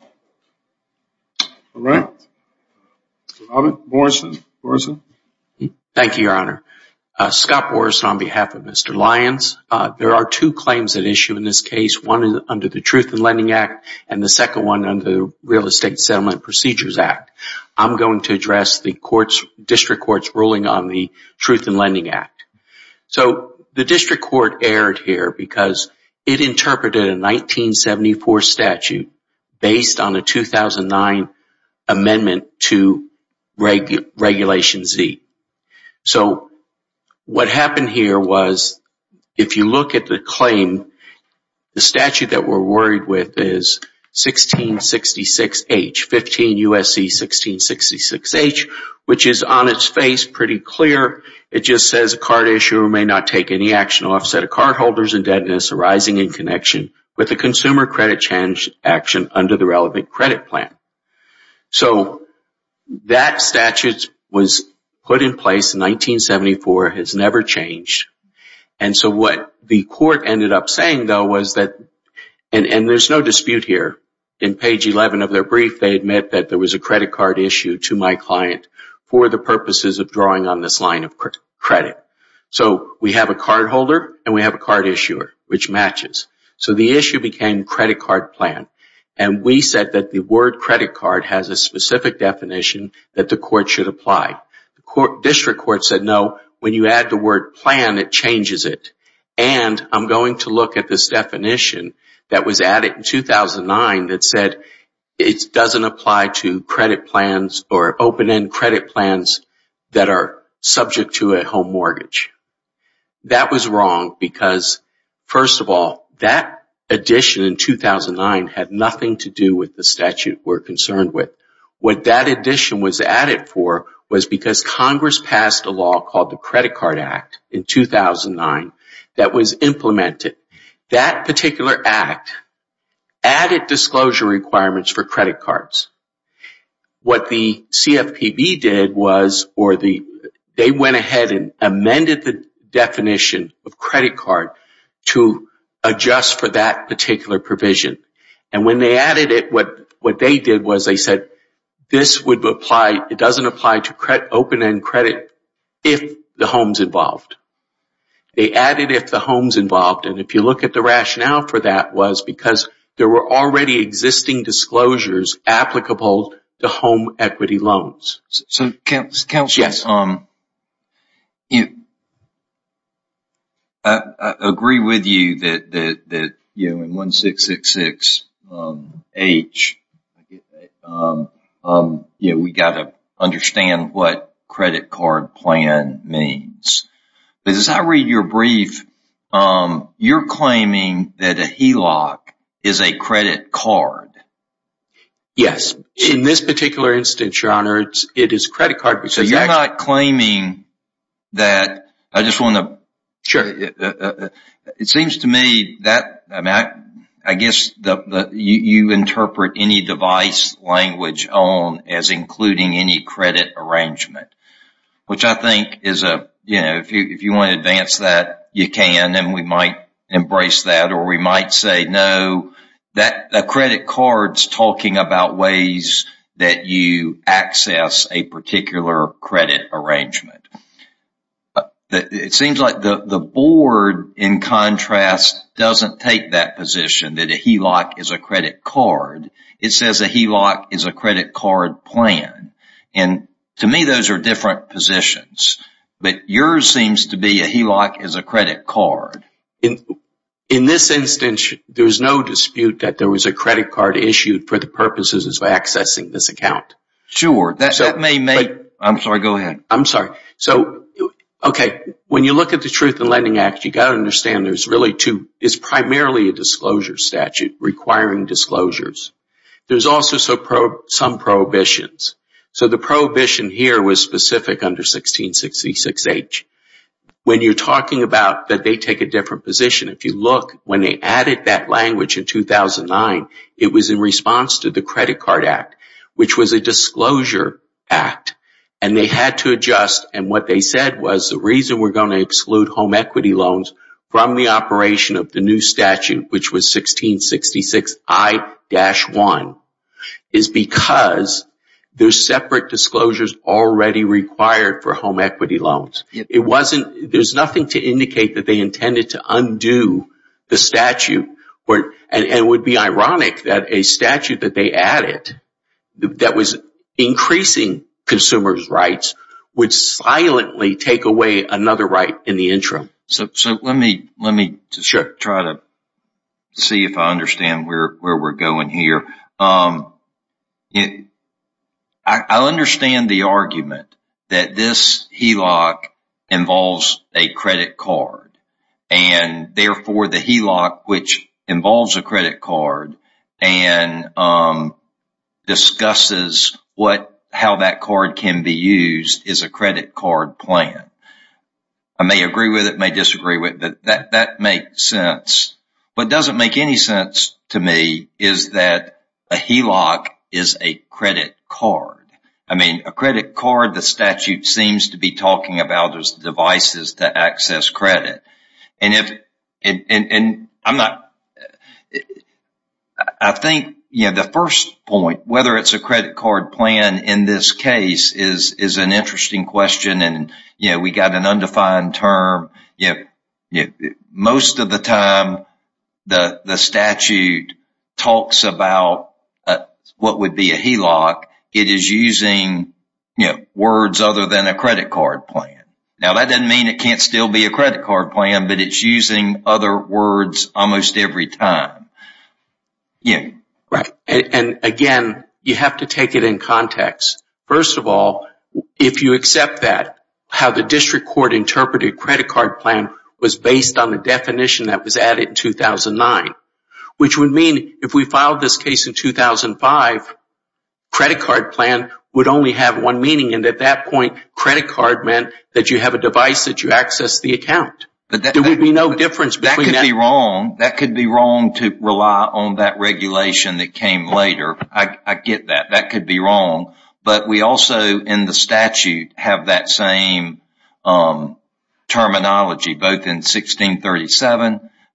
All right. Robert Morrison. Morrison. Thank you, Your Honor. Scott Morrison on behalf of Mr. Lyons. There are two claims at issue in this case, one under the Truth in Lending Act and the second one under the Real Estate Settlement Procedures Act. I'm going to address the court's, district court's, ruling on the Truth in Lending Act. So the district court erred here because it interpreted a 1974 statute based on a 2009 amendment to Regulation Z. So what happened here was, if you look at the claim, the statute that we're worried with is 1666H, 15 U.S.C. 1666H, which is on its face pretty clear. It just says a card issuer may not take any action or offset of cardholders and arising in connection with a consumer credit change action under the relevant credit plan. So that statute was put in place in 1974, has never changed. And so what the court ended up saying though was that, and there's no dispute here, in page 11 of their brief they admit that there was a credit card issue to my client for the purposes of drawing on this line of credit. So we have a credit card issuer, which matches. So the issue became credit card plan. And we said that the word credit card has a specific definition that the court should apply. The district court said no, when you add the word plan it changes it. And I'm going to look at this definition that was added in 2009 that said it doesn't apply to credit plans or open-end credit plans that are subject to a home mortgage. That was wrong because, first of all, that addition in 2009 had nothing to do with the statute we're concerned with. What that addition was added for was because Congress passed a law called the Credit Card Act in 2009 that was implemented. That particular act added disclosure requirements for credit cards. What the CFPB did was, or they went ahead and amended the definition of credit card to adjust for that particular provision. And when they added it, what they did was they said this would apply, it doesn't apply to open-end credit if the home's involved. They added if the home's involved. And if you look at the rationale for that was because there were already existing disclosures applicable to home equity loans. I agree with you that in 1666H we got to understand what credit card plan means. But as I read your brief, you're claiming that a HELOC is a credit card. Yes. In this particular instance, Your Honor, it is a credit card. So you're not claiming that... I just want to... Sure. It seems to me that I guess you interpret any device language on as including any credit arrangement. Which I think is a, you know, if you want to advance that, you can, and we might embrace that. Or we might say no, that credit card's talking about ways that you access a particular credit arrangement. It seems like the board, in contrast, doesn't take that position that a HELOC is a credit card. It says a HELOC is a credit card plan. And to me those are different positions. But yours seems to be a HELOC is a credit card. In this instance, there's no dispute that there was a credit card issued for the purposes of accessing this account. Sure. That may make... I'm sorry, go ahead. I'm sorry. So, okay, when you look at the Truth in Lending Act, you got to understand there's really two. It's primarily a disclosure statute requiring disclosures. There's also some prohibitions. So the prohibition here was specific under 1666H. When you're talking about that they take a different position, if you look, when they added that language in 2009, it was in response to the Credit Card Act, which was a disclosure act. And they had to adjust. And what they said was the reason we're going to exclude home equity loans from the operation of the new statute, which was 1666I-1, is because there's separate disclosures already required for home equity loans. It wasn't, there's nothing to indicate that they intended to undo the statute. And it would be ironic that a statute that they added, that was increasing consumers' rights, would silently take away another right in the Let's see if I understand where we're going here. I understand the argument that this HELOC involves a credit card. And therefore the HELOC, which involves a credit card, and discusses how that card can be used, is a credit card plan. I may make any sense to me, is that a HELOC is a credit card. I mean, a credit card, the statute seems to be talking about as devices to access credit. And if, and I'm not, I think, you know, the first point, whether it's a credit card plan in this case, is an interesting question. And, you know, we got an undefined term, you know, most of the time the statute talks about what would be a HELOC, it is using, you know, words other than a credit card plan. Now that doesn't mean it can't still be a credit card plan, but it's using other words almost every time. Yeah. Right, and again, you have to take it in context. First of all, if you accept that, how the definition that was added in 2009, which would mean if we filed this case in 2005, credit card plan would only have one meaning, and at that point credit card meant that you have a device that you access the account. There would be no difference. That could be wrong, that could be wrong to rely on that regulation that came later. I get that, that could be wrong. But we also, in the 1637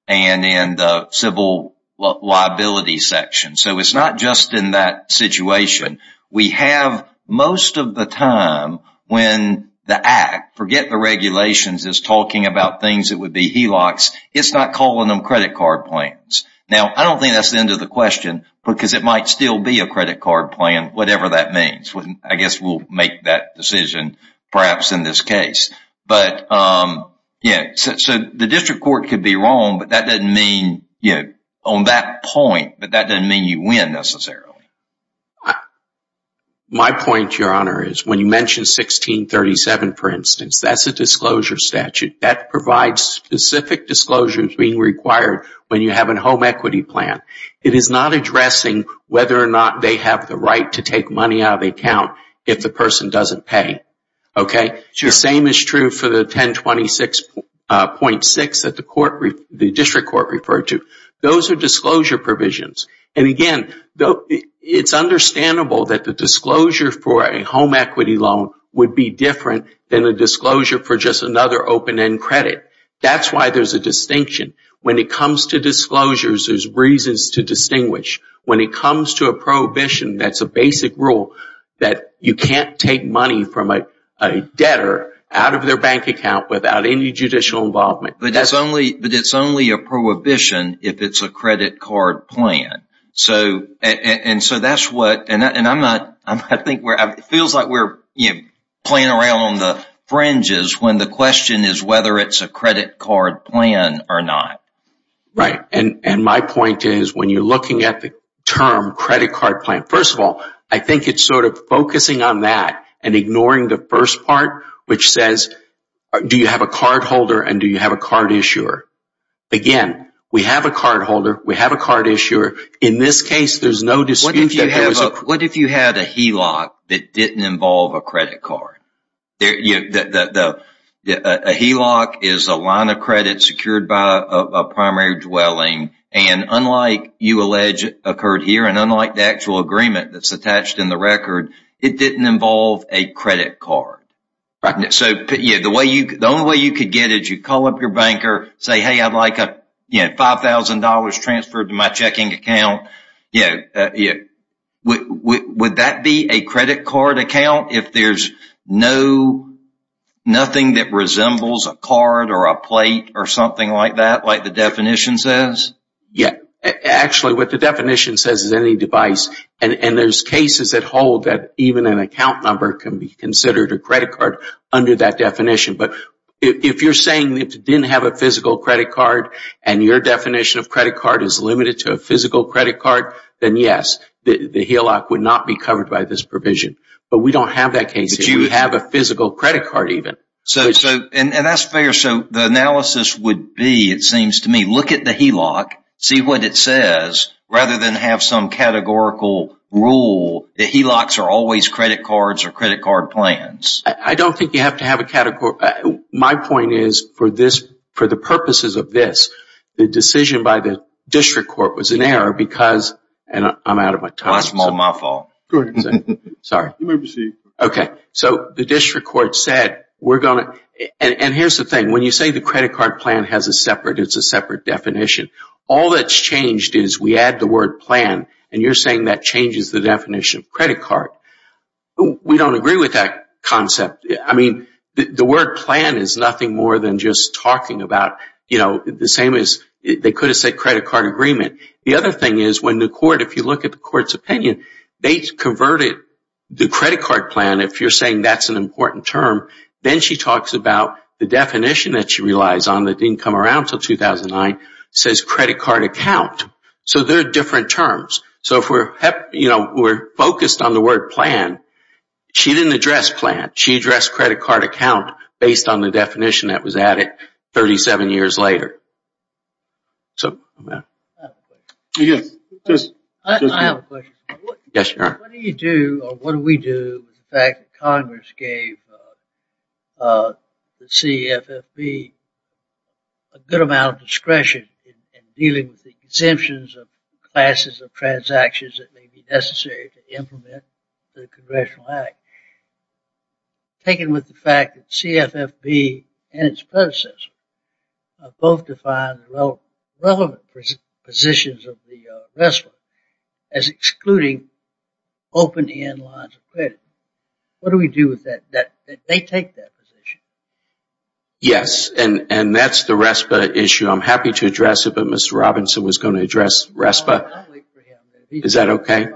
and in the civil liability section, so it's not just in that situation. We have most of the time when the Act, forget the regulations, is talking about things that would be HELOCs, it's not calling them credit card plans. Now, I don't think that's the end of the question, because it might still be a credit card plan, whatever that means. I guess we'll make that decision perhaps in this case. But yeah, so the district court could be wrong, but that doesn't mean, you know, on that point, but that doesn't mean you win necessarily. My point, Your Honor, is when you mentioned 1637, for instance, that's a disclosure statute that provides specific disclosures being required when you have a home equity plan. It is not addressing whether or not they have the account if the person doesn't pay, okay? The same is true for the 1026.6 that the district court referred to. Those are disclosure provisions. And again, it's understandable that the disclosure for a home equity loan would be different than a disclosure for just another open-end credit. That's why there's a distinction. When it comes to disclosures, there's a prohibition that's a basic rule that you can't take money from a debtor out of their bank account without any judicial involvement. But it's only a prohibition if it's a credit card plan. So that's what, and I'm not, I think, it feels like we're playing around on the fringes when the question is whether it's a credit card plan or not. Right, and my point is, when you're looking at the term credit card plan, first of all, I think it's sort of focusing on that and ignoring the first part, which says, do you have a card holder and do you have a card issuer? Again, we have a card holder, we have a card issuer. In this case, there's no dispute. What if you had a HELOC that didn't involve a credit card? A HELOC is a line of what you allege occurred here and unlike the actual agreement that's attached in the record, it didn't involve a credit card. So the only way you could get it, you call up your banker, say, hey, I'd like $5,000 transferred to my checking account. Would that be a credit card account if there's nothing that resembles a card or a plate or what the definition says is any device and there's cases that hold that even an account number can be considered a credit card under that definition. But if you're saying it didn't have a physical credit card and your definition of credit card is limited to a physical credit card, then yes, the HELOC would not be covered by this provision. But we don't have that case. We have a physical credit card even. And that's fair. So the analysis would be, it would be that rather than have some categorical rule, the HELOCs are always credit cards or credit card plans. I don't think you have to have a category. My point is for the purposes of this, the decision by the district court was an error because, and I'm out of my time. My fault. Go ahead. Sorry. You may proceed. Okay. So the district court said we're going to, and here's the thing, when you say the credit card plan has a separate, it's a separate definition, all that's changed is we add the word plan and you're saying that changes the definition of credit card. We don't agree with that concept. I mean, the word plan is nothing more than just talking about, you know, the same as they could have said credit card agreement. The other thing is when the court, if you look at the court's opinion, they converted the credit card plan, if you're saying that's an important term, then she talks about the definition that she used in 2009, it says credit card account. So they're different terms. So if we're, you know, we're focused on the word plan, she didn't address plan. She addressed credit card account based on the definition that was added 37 years later. So, yeah. I have a question. Yes, you are. What do you do, or what do we do with the fact that discretion in dealing with the exemptions of classes of transactions that may be necessary to implement the Congressional Act, taken with the fact that CFFB and its predecessor both defined relevant positions of the RESPA as excluding open-end lines of credit. What do we do with that, that they address the RESPA issue? I'm happy to address it, but Mr. Robinson was going to address RESPA. Is that okay?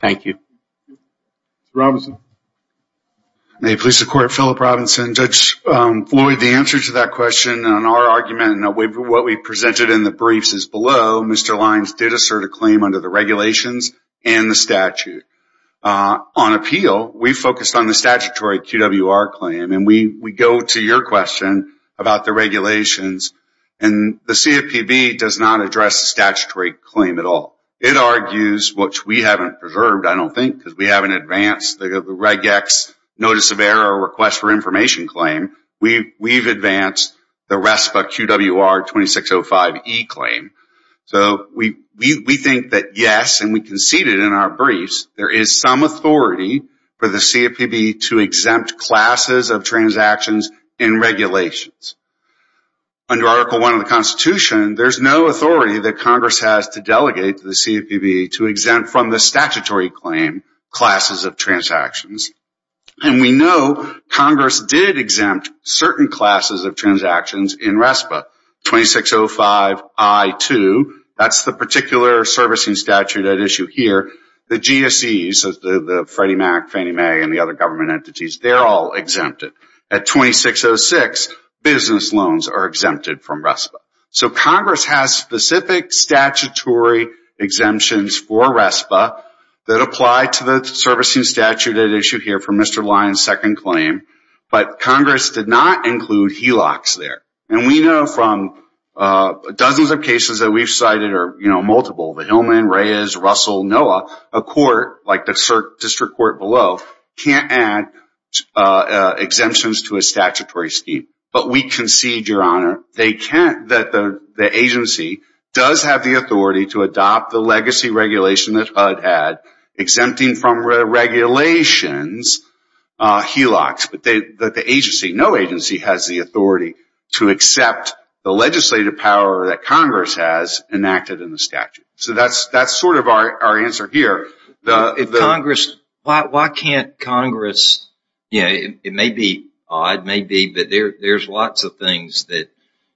Thank you. Mr. Robinson. May it please the Court, Philip Robinson. Judge Floyd, the answer to that question on our argument and what we presented in the briefs is below, Mr. Lyons did assert a claim under the regulations and the statute. On appeal, we focused on the statutory QWR claim, and we go to your question about the regulations, and the CFPB does not address the statutory claim at all. It argues, which we haven't preserved, I don't think, because we haven't advanced the reg X notice of error or request for information claim. We've advanced the RESPA QWR 2605E claim. So, we think that yes, and we conceded in our briefs, there is some authority for the CFPB to exempt certain classes of transactions in regulations. Under Article 1 of the Constitution, there's no authority that Congress has to delegate to the CFPB to exempt from the statutory claim classes of transactions, and we know Congress did exempt certain classes of transactions in RESPA 2605I2. That's the particular servicing statute at issue here. The GSEs, the Freddie Mac, Fannie Mae, and the other government entities, they're all exempted. At 2606, business loans are exempted from RESPA. So, Congress has specific statutory exemptions for RESPA that apply to the servicing statute at issue here for Mr. Lyon's second claim, but Congress did not include HELOCs there. And we know from dozens of cases that we've cited, or multiple, the Hillman, Reyes, Russell, Noah, a court like that, they can't add exemptions to a statutory scheme. But we concede, Your Honor, that the agency does have the authority to adopt the legacy regulation that HUD had, exempting from regulations HELOCs, but that the agency, no agency, has the authority to accept the legislative power that Congress has enacted in the statute. So, that's sort of our answer here. Congress, why can't Congress, you know, it may be odd, maybe, but there's lots of things that,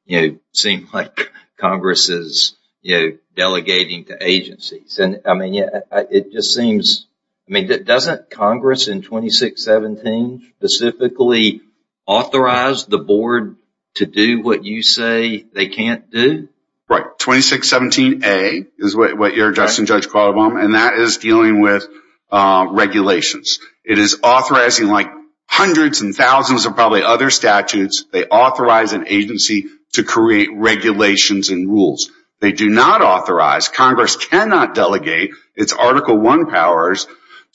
you know, seem like Congress is, you know, delegating to agencies. And, I mean, it just seems, I mean, doesn't Congress in 2617 specifically authorize the board to do what you say they can't do? Right, 2617A is what you're addressing, Judge Qualabong, and that is dealing with regulations. It is authorizing, like hundreds and thousands of probably other statutes, they authorize an agency to create regulations and rules. They do not authorize, Congress cannot delegate its Article I powers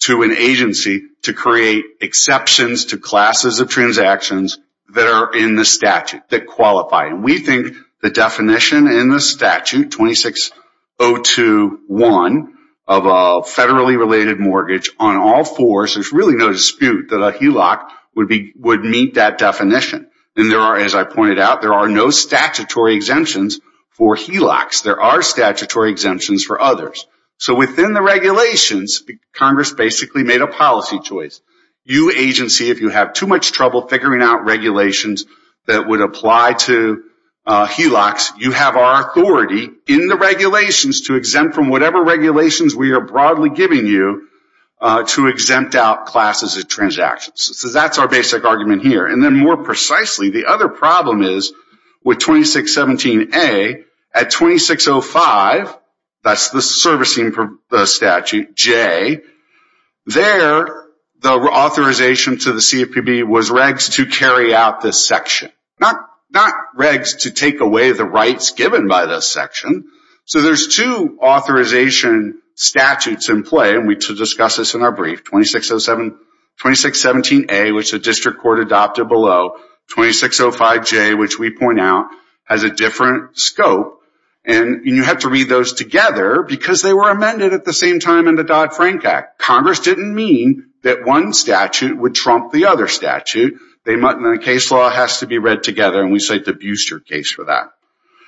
to an agency to create exceptions to classes of transactions that are in the statute, that qualify. And we think the definition in the statute, 26021, of a federally related mortgage on all fours, there's really no dispute that a HELOC would meet that definition. And there are, as I pointed out, there are no statutory exemptions for HELOCs. There are statutory exemptions for others. So, within the regulations, Congress basically made a policy choice. You, agency, if you have too much trouble figuring out regulations that would apply to HELOCs, you have our authority in the regulations to exempt from whatever regulations we are broadly giving you to exempt out classes of transactions. So, that's our basic argument here. And then, more precisely, the other problem is with 2617A, at 2605, that's the servicing statute, J, there the authorization to CFPB was regs to carry out this section. Not regs to take away the rights given by this section. So, there's two authorization statutes in play, and we discussed this in our brief, 2607, 2617A, which the district court adopted below, 2605J, which we point out, has a different scope. And you have to read those together because they were amended at the same time in the Dodd-Frank Act. Congress didn't mean that one statute would trump the other statute. The case law has to be read together, and we cite the Buster case for that.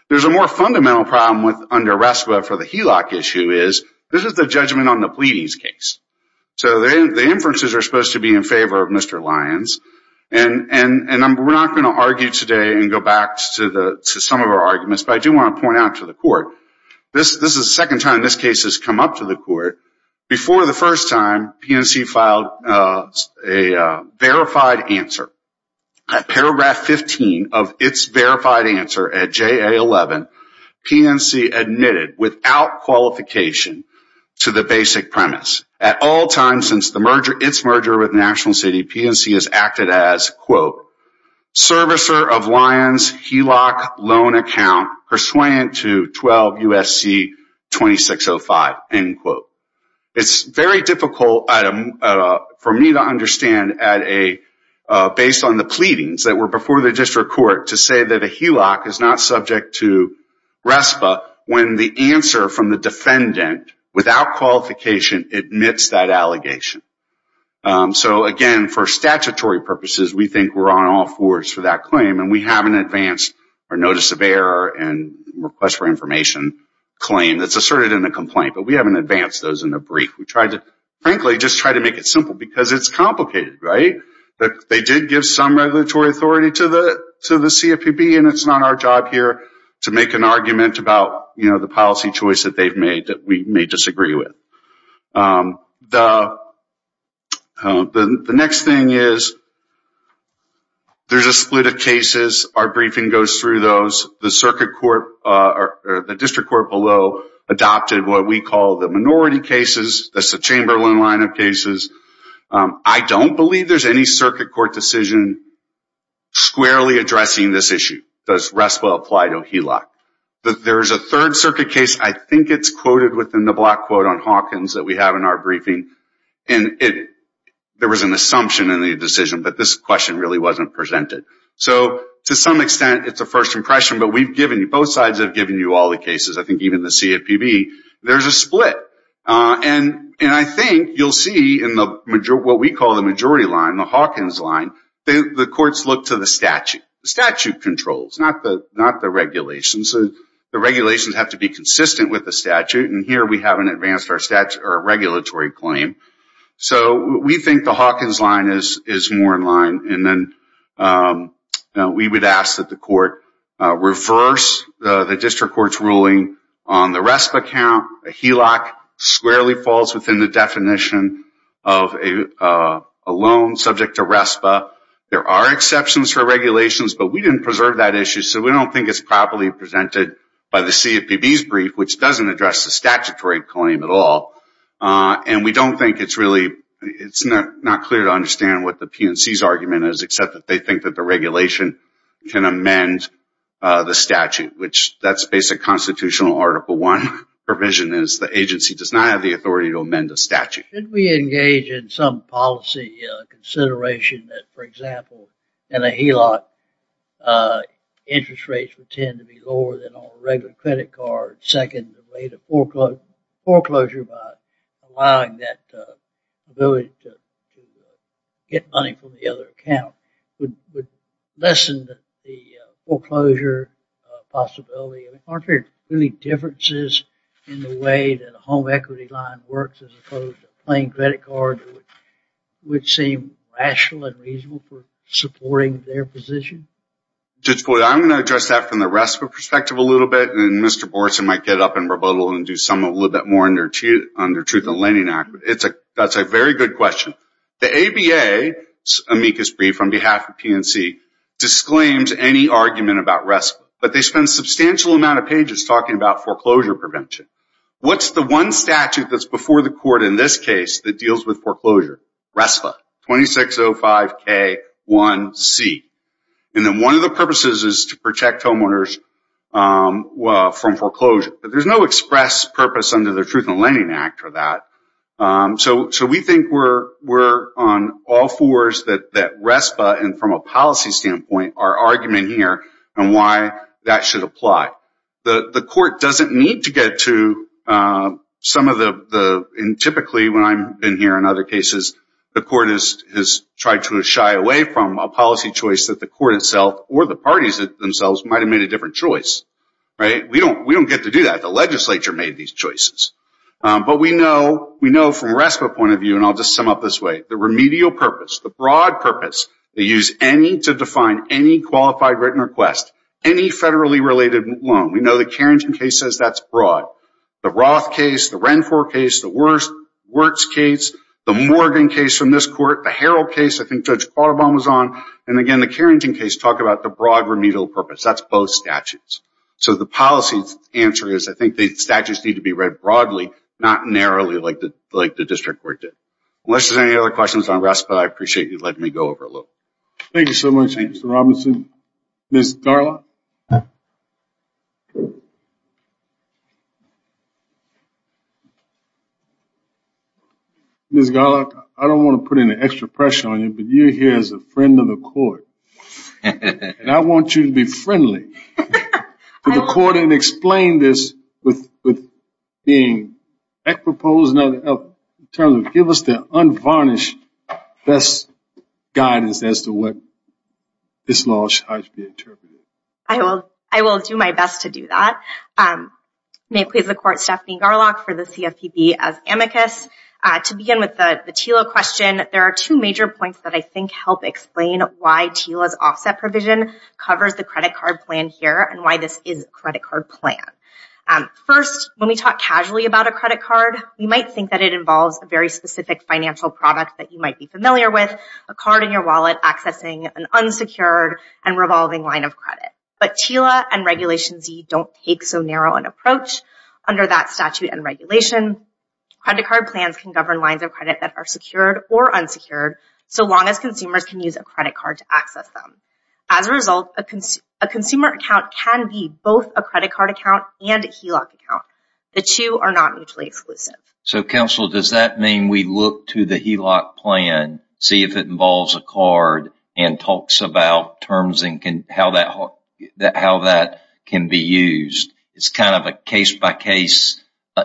There's a more fundamental problem under RESPA for the HELOC issue is, this is the judgment on the pleadings case. So, the inferences are supposed to be in favor of Mr. Lyons, and we're not going to argue today and go back to some of our arguments, but I do want to point out to the court, this is the second time this case has come up to the court. Before the first time, PNC filed a verified answer. At paragraph 15 of its verified answer at JA11, PNC admitted, without qualification, to the basic premise. At all times since the merger, its merger with National City, PNC has acted as, quote, servicer of Lyons HELOC loan account, persuadant to 12 U.S.C. 2605, end quote. It's very difficult for me to understand, based on the pleadings that were before the district court, to say that a HELOC is not subject to RESPA when the answer from the defendant, without qualification, admits that allegation. So again, for statutory purposes, we think we're on all fours for that claim, and we have an advanced notice of error and request for asserted in a complaint, but we haven't advanced those in the brief. We tried to, frankly, just try to make it simple because it's complicated, right? They did give some regulatory authority to the CFPB, and it's not our job here to make an argument about, you know, the policy choice that they've made that we may disagree with. The next thing is, there's a split of cases. Our briefing goes through those. The circuit court, or the district court below, adopted what we call the minority cases. That's the Chamber loan line of cases. I don't believe there's any circuit court decision squarely addressing this issue. Does RESPA apply to HELOC? There is a third circuit case, I think it's quoted within the block quote on Hawkins that we have in our briefing, and there was an assumption in the decision, but this question really wasn't presented. So to some extent, it's a first impression, but we've given you, both sides have given you all the cases, I think even the CFPB. There's a split, and I think you'll see in what we call the majority line, the Hawkins line, the courts look to the statute, the statute controls, not the regulations. The regulations have to be consistent with the statute, and here we haven't advanced our statutory or regulatory claim. So we think the Hawkins line is more in line, and then we would ask that the court reverse the district court's ruling on the RESPA count. HELOC squarely falls within the definition of a loan subject to RESPA. There are exceptions for regulations, but we didn't preserve that issue, so we don't think it's properly presented by the CFPB's brief, which doesn't address the statutory claim at all, and we don't think it's really, it's not clear to understand what the PNC's argument is, except that they think that the regulation can amend the statute, which that's basic constitutional Article 1 provision, is the agency does not have the authority to amend a statute. Should we engage in some policy consideration that, for example, in a HELOC, interest rates would tend to be lower than on a other account, would lessen the foreclosure possibility? Aren't there any differences in the way that a home equity line works, as opposed to playing credit cards, which seem rational and reasonable for supporting their position? Judge Boyd, I'm going to address that from the RESPA perspective a little bit, and Mr. Boretson might get up and rebuttal and do some a little bit more on their Truth in Lending Act, but it's a, that's a very good question. The ABA's amicus brief on behalf of PNC disclaims any argument about RESPA, but they spend a substantial amount of pages talking about foreclosure prevention. What's the one statute that's before the court in this case that deals with foreclosure? RESPA, 2605 K1C, and then one of the purposes is to protect homeowners from foreclosure, but there's no express purpose under the Truth in Lending Act for that. So, so we think we're, we're on all fours that, that RESPA, and from a policy standpoint, our argument here, and why that should apply. The, the court doesn't need to get to some of the, the, and typically when I'm in here in other cases, the court is, has tried to shy away from a policy choice that the court itself, or the parties themselves, might have made a different choice, right? We know, we know from RESPA point of view, and I'll just sum up this way, the remedial purpose, the broad purpose, they use any to define any qualified written request, any federally related loan. We know the Carrington case says that's broad. The Roth case, the Renford case, the Wirtz case, the Morgan case from this court, the Harrell case, I think Judge Audubon was on, and again the Carrington case talk about the broad remedial purpose. That's both statutes. So the policy answer is, I think the statutes need to be read broadly, not narrowly, like the, like the district court did. Unless there's any other questions on RESPA, I appreciate you letting me go over a little. Thank you so much, Mr. Robinson. Ms. Garlock. Ms. Garlock, I don't want to put any extra pressure on you, but you're here as a friend of the court, and I want you to be friendly to the court and explain this with being equi-posed in terms of give us the unvarnished best guidance as to what this law should be interpreted. I will do my best to do that. May it please the court, Stephanie Garlock for the CFPB as amicus. To begin with the TILA question, there are two major points that I think help explain why TILA's offset provision covers the credit card plan here and why this is a credit card plan. First, when we talk casually about a credit card, we might think that it involves a very specific financial product that you might be familiar with, a card in your wallet accessing an unsecured and revolving line of credit. But TILA and Regulation Z don't take so narrow an approach. Under that statute and regulation, credit card plans can govern lines of credit that are secured or unsecured so long as consumers can use a credit card to account and HELOC account. The two are not mutually exclusive. So counsel, does that mean we look to the HELOC plan, see if it involves a card and talks about terms and how that can be used? It's kind of a case-by-case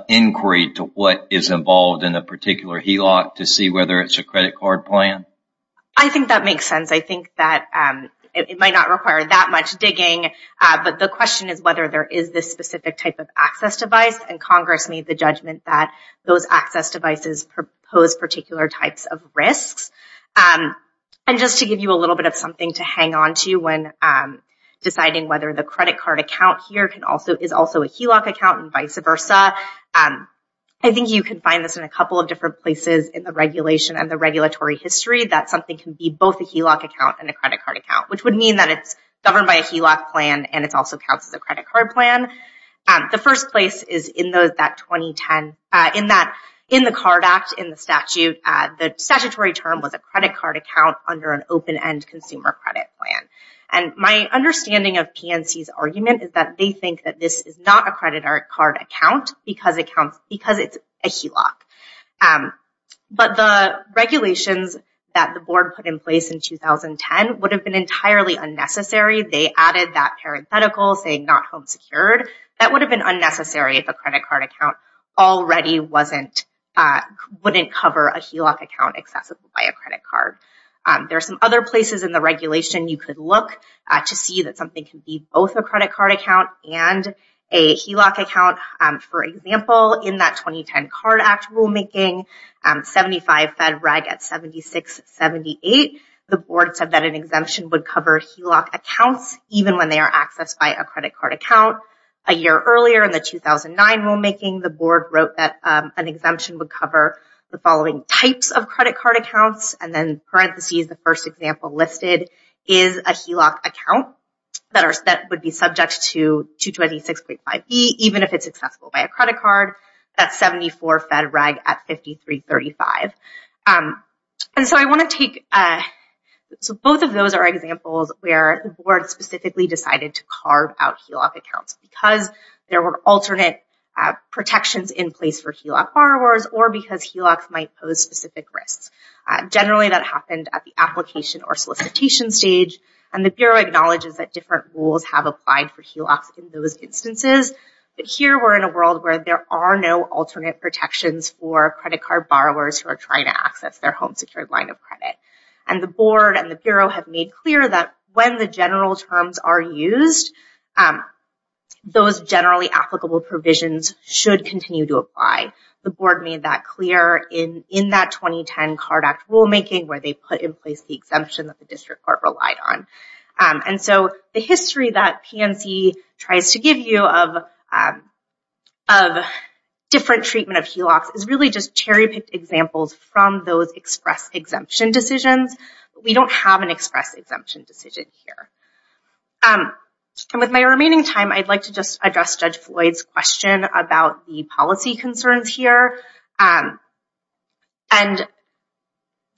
inquiry to what is involved in a particular HELOC to see whether it's a credit card plan? I think that makes sense. I think that it might not require that much digging, but the question is whether there is this specific type of access device and Congress made the judgment that those access devices pose particular types of risks. And just to give you a little bit of something to hang on to when deciding whether the credit card account here is also a HELOC account and vice versa, I think you can find this in a couple of different places in the regulation and the regulatory history that something can be both a HELOC account and a credit card account, which would mean that it's governed by a HELOC plan and it's also counts as a credit card plan. The first place is in that 2010, in the Card Act, in the statute, the statutory term was a credit card account under an open-end consumer credit plan. And my understanding of PNC's argument is that they think that this is not a credit card account because it's a HELOC. But the regulations that the board put in place in 2010 would have been entirely unnecessary. They added that parenthetical saying not home secured. That would have been unnecessary if a credit card account already wouldn't cover a HELOC account accessible by a credit card. There are some other places in the regulation you could look to see that something can be both a credit card account and a HELOC account. For example, in that 2010 Card Act rulemaking, 75 fed reg at 76.78, the board said that an exemption would cover HELOC accounts even when they are accessed by a credit card account. A year earlier in the 2009 rulemaking, the board wrote that an exemption would cover the following types of credit card accounts and then parentheses the first example listed is a HELOC account that would be subject to 226.5e even if it's accessible by a credit card. That's 74 fed reg at 53.35. And so I want to take, so both of those are examples where the board specifically decided to carve out HELOC accounts because there were alternate protections in place for HELOC borrowers or because HELOCs might pose specific risks. Generally that happened at the application or solicitation stage and the Bureau acknowledges that different rules have applied for HELOCs in those instances, but here we're in a world where there are no alternate protections for credit card borrowers who are trying to access their home secured line of credit. And the board and the Bureau have made clear that when the general terms are used, those generally applicable provisions should continue to apply. The board made that clear in in that 2010 Card Act rulemaking where they put in place the exemption that the history that PNC tries to give you of different treatment of HELOCs is really just cherry-picked examples from those express exemption decisions. We don't have an express exemption decision here. With my remaining time I'd like to just address Judge Floyd's question about the policy concerns here. And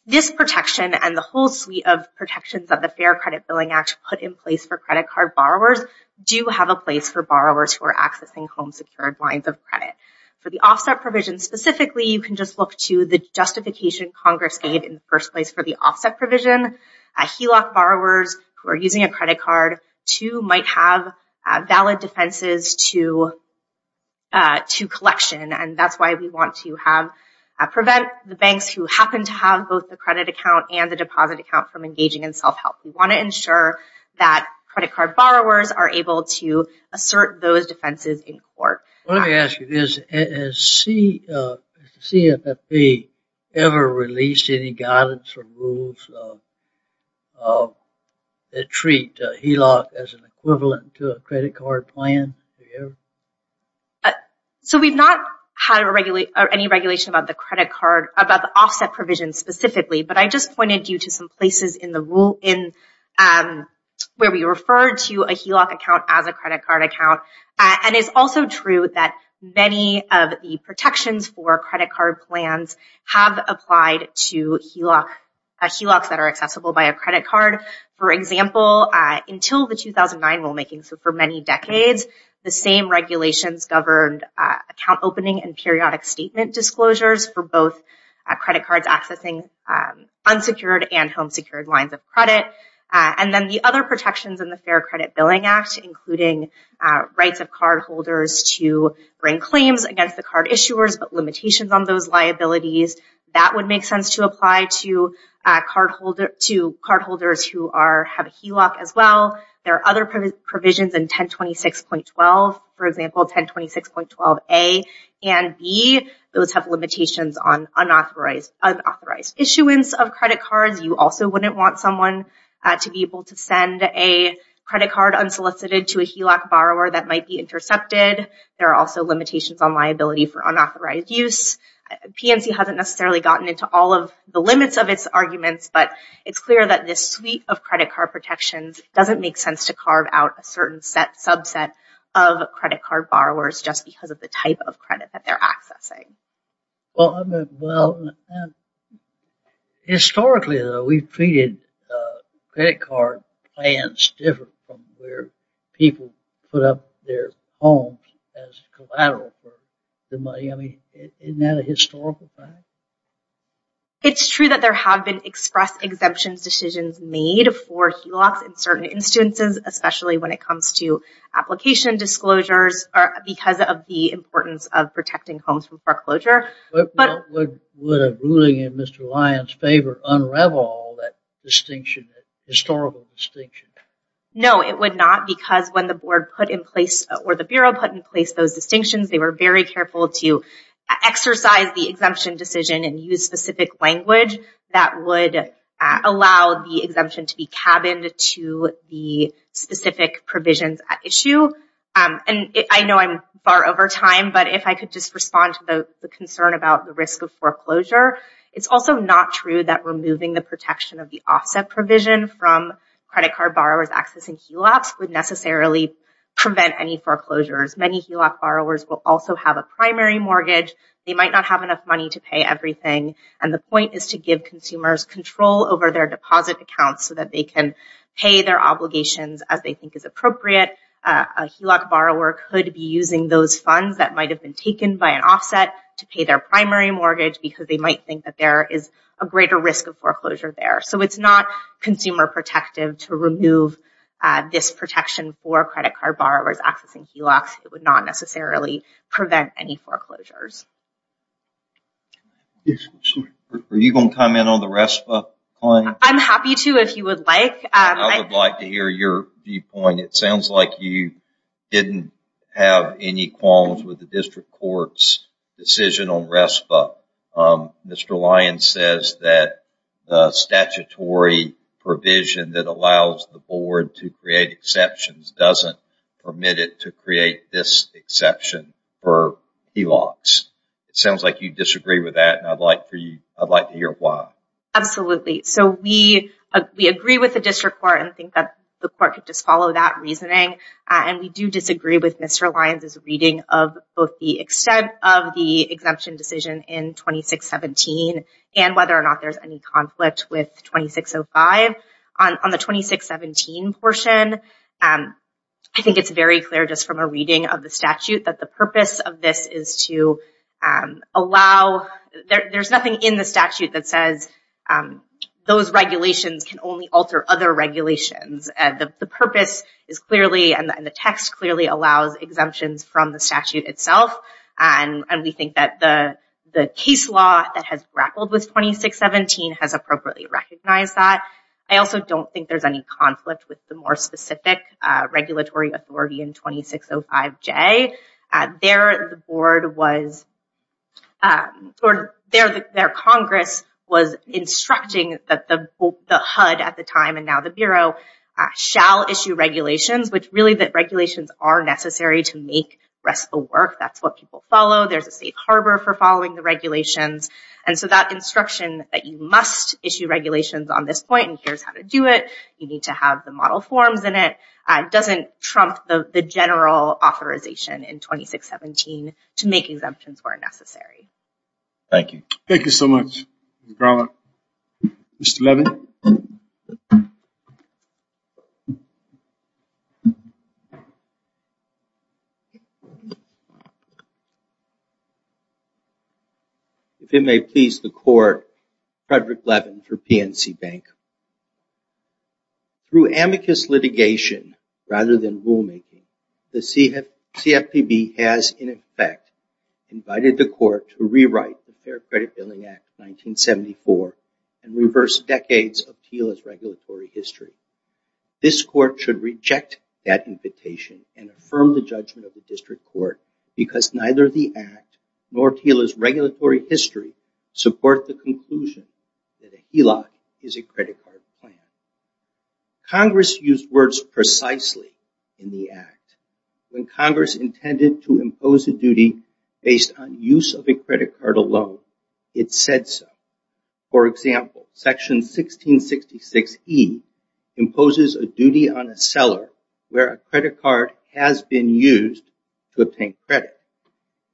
this protection and the whole suite of protections that the Fair Credit Billing Act put in place for credit card borrowers do have a place for borrowers who are accessing home secured lines of credit. For the offset provision specifically you can just look to the justification Congress gave in the first place for the offset provision. HELOC borrowers who are using a credit card too might have valid defenses to collection and that's why we want to prevent the banks who happen to have both the credit account and the credit card borrowers are able to assert those defenses in court. Let me ask you this, has CFPB ever released any guidance or rules that treat HELOC as an equivalent to a credit card plan? So we've not had any regulation about the offset provision specifically but I just where we refer to a HELOC account as a credit card account and it's also true that many of the protections for credit card plans have applied to HELOCs that are accessible by a credit card. For example until the 2009 rulemaking so for many decades the same regulations governed account opening and periodic statement disclosures for both credit cards accessing unsecured and home There are other protections in the Fair Credit Billing Act including rights of cardholders to bring claims against the card issuers but limitations on those liabilities that would make sense to apply to cardholders who have a HELOC as well. There are other provisions in 1026.12 for example 1026.12A and B those have limitations on unauthorized issuance of credit cards. You also wouldn't want someone to be able to send a credit card unsolicited to a HELOC borrower that might be intercepted. There are also limitations on liability for unauthorized use. PNC hasn't necessarily gotten into all of the limits of its arguments but it's clear that this suite of credit card protections doesn't make sense to carve out a certain set subset of credit card borrowers just because of the type of credit that they're accessing. Well historically though we've treated credit card plans different from where people put up their homes as collateral for the money. Isn't that a historical fact? It's true that there have been express exemptions decisions made for HELOCs in certain instances especially when it comes to application disclosures or because of the importance of protecting homes from foreclosure. But would a ruling in Mr. Lyons favor unravel that distinction, historical distinction? No it would not because when the board put in place or the Bureau put in place those distinctions they were very careful to exercise the exemption decision and use specific language that would allow the exemption to be cabined to the specific provisions at issue and I know I'm far over time but if I could just respond to the concern about the risk of foreclosure. It's also not true that removing the protection of the offset provision from credit card borrowers accessing HELOCs would necessarily prevent any foreclosures. Many HELOC borrowers will also have a primary mortgage. They might not have enough money to pay everything and the point is to give consumers control over their deposit accounts so that they can pay their obligations as they think is appropriate. A HELOC borrower could be using those funds that might have been taken by an offset to pay their primary mortgage because they might think that there is a greater risk of foreclosure there. So it's not consumer protective to remove this protection for credit card borrowers accessing HELOCs. It would not necessarily prevent any foreclosures. Are you going to comment on the RESPA claim? I'm happy to if you would like. I would like to hear your viewpoint. It sounds like you didn't have any qualms with the district courts decision on RESPA. Mr. Lyons says that the statutory provision that allows the board to create exceptions doesn't permit it to create this exception for HELOCs. It sounds like you disagree with that and I'd like to hear why. Absolutely. So we agree with the district court and think that the court could just follow that reasoning and we do disagree with Mr. Lyons' reading of both the extent of the exemption decision in 2617 and whether or not there's any conflict with 2605. On the other hand, I think it's very clear just from a reading of the statute that the purpose of this is to allow, there's nothing in the statute that says those regulations can only alter other regulations. The purpose is clearly and the text clearly allows exemptions from the statute itself and we think that the case law that has grappled with 2617 has appropriately recognized that. I also don't think there's any conflict with the more specific regulatory authority in 2605J. There the board was, their Congress was instructing that the HUD at the time and now the Bureau shall issue regulations which really that regulations are necessary to make RESPA work. That's what people follow. There's a safe harbor for following the regulations and so that instruction that you must issue regulations on this point and here's how to do it, you need to have the model forms in it, doesn't trump the general authorization in 2617 to make exemptions where necessary. Thank you. Thank you so much. Mr. Levin. If it may please the Court, Frederick Levin for PNC Bank. Through amicus litigation rather than rulemaking, the CFPB has in effect invited the regulatory history. This court should reject that invitation and affirm the judgment of the district court because neither the act nor TILA's regulatory history support the conclusion that a HELOC is a credit card plan. Congress used words precisely in the act. When Congress intended to impose a duty based on use of a credit card alone, it said so. For example, section 1666 E imposes a duty on a seller where a credit card has been used to obtain credit.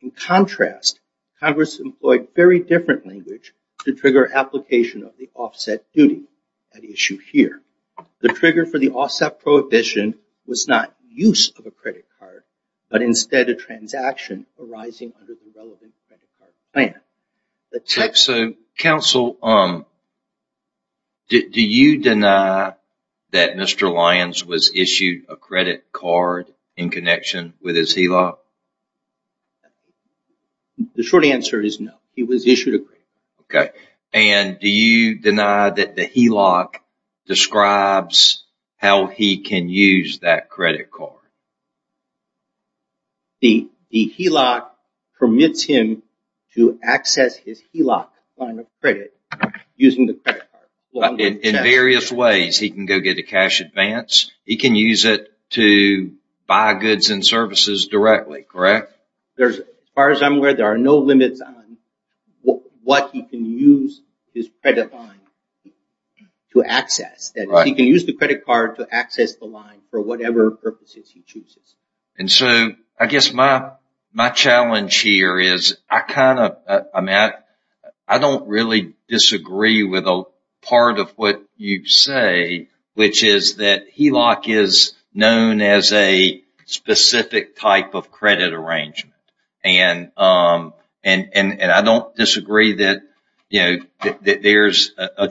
In contrast, Congress employed very different language to trigger application of the offset duty, an issue here. The trigger for the offset prohibition was not use of a credit card, but instead a transaction arising under the relevant credit card plan. Counsel, do you deny that Mr. Lyons was issued a credit card in connection with his HELOC? The short answer is no. He was issued a credit card. Okay, and do you deny that the credit card? The HELOC permits him to access his HELOC line of credit using the credit card. In various ways, he can go get a cash advance, he can use it to buy goods and services directly, correct? There's, as far as I'm aware, there are no limits on what he can use his credit line to access. He can use the credit card to access the line for whatever purposes he chooses. And so, I guess my challenge here is, I kind of, I mean, I don't really disagree with a part of what you say, which is that HELOC is known as a specific type of credit arrangement. And I don't disagree that, you know, that there's a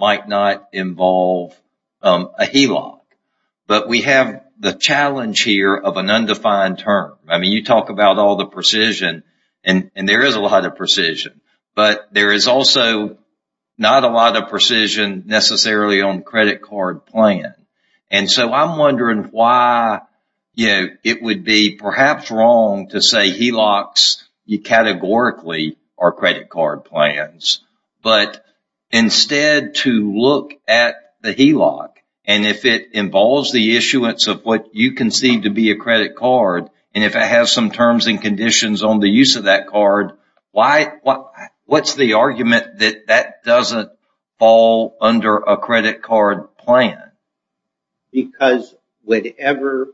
might not involve a HELOC. But we have the challenge here of an undefined term. I mean, you talk about all the precision, and there is a lot of precision, but there is also not a lot of precision necessarily on credit card plan. And so, I'm wondering why, you know, it would be perhaps wrong to say HELOCs categorically are credit card plans. But instead, to look at the HELOC, and if it involves the issuance of what you conceive to be a credit card, and if it has some terms and conditions on the use of that card, why, what's the argument that that doesn't fall under a credit card plan? Because whatever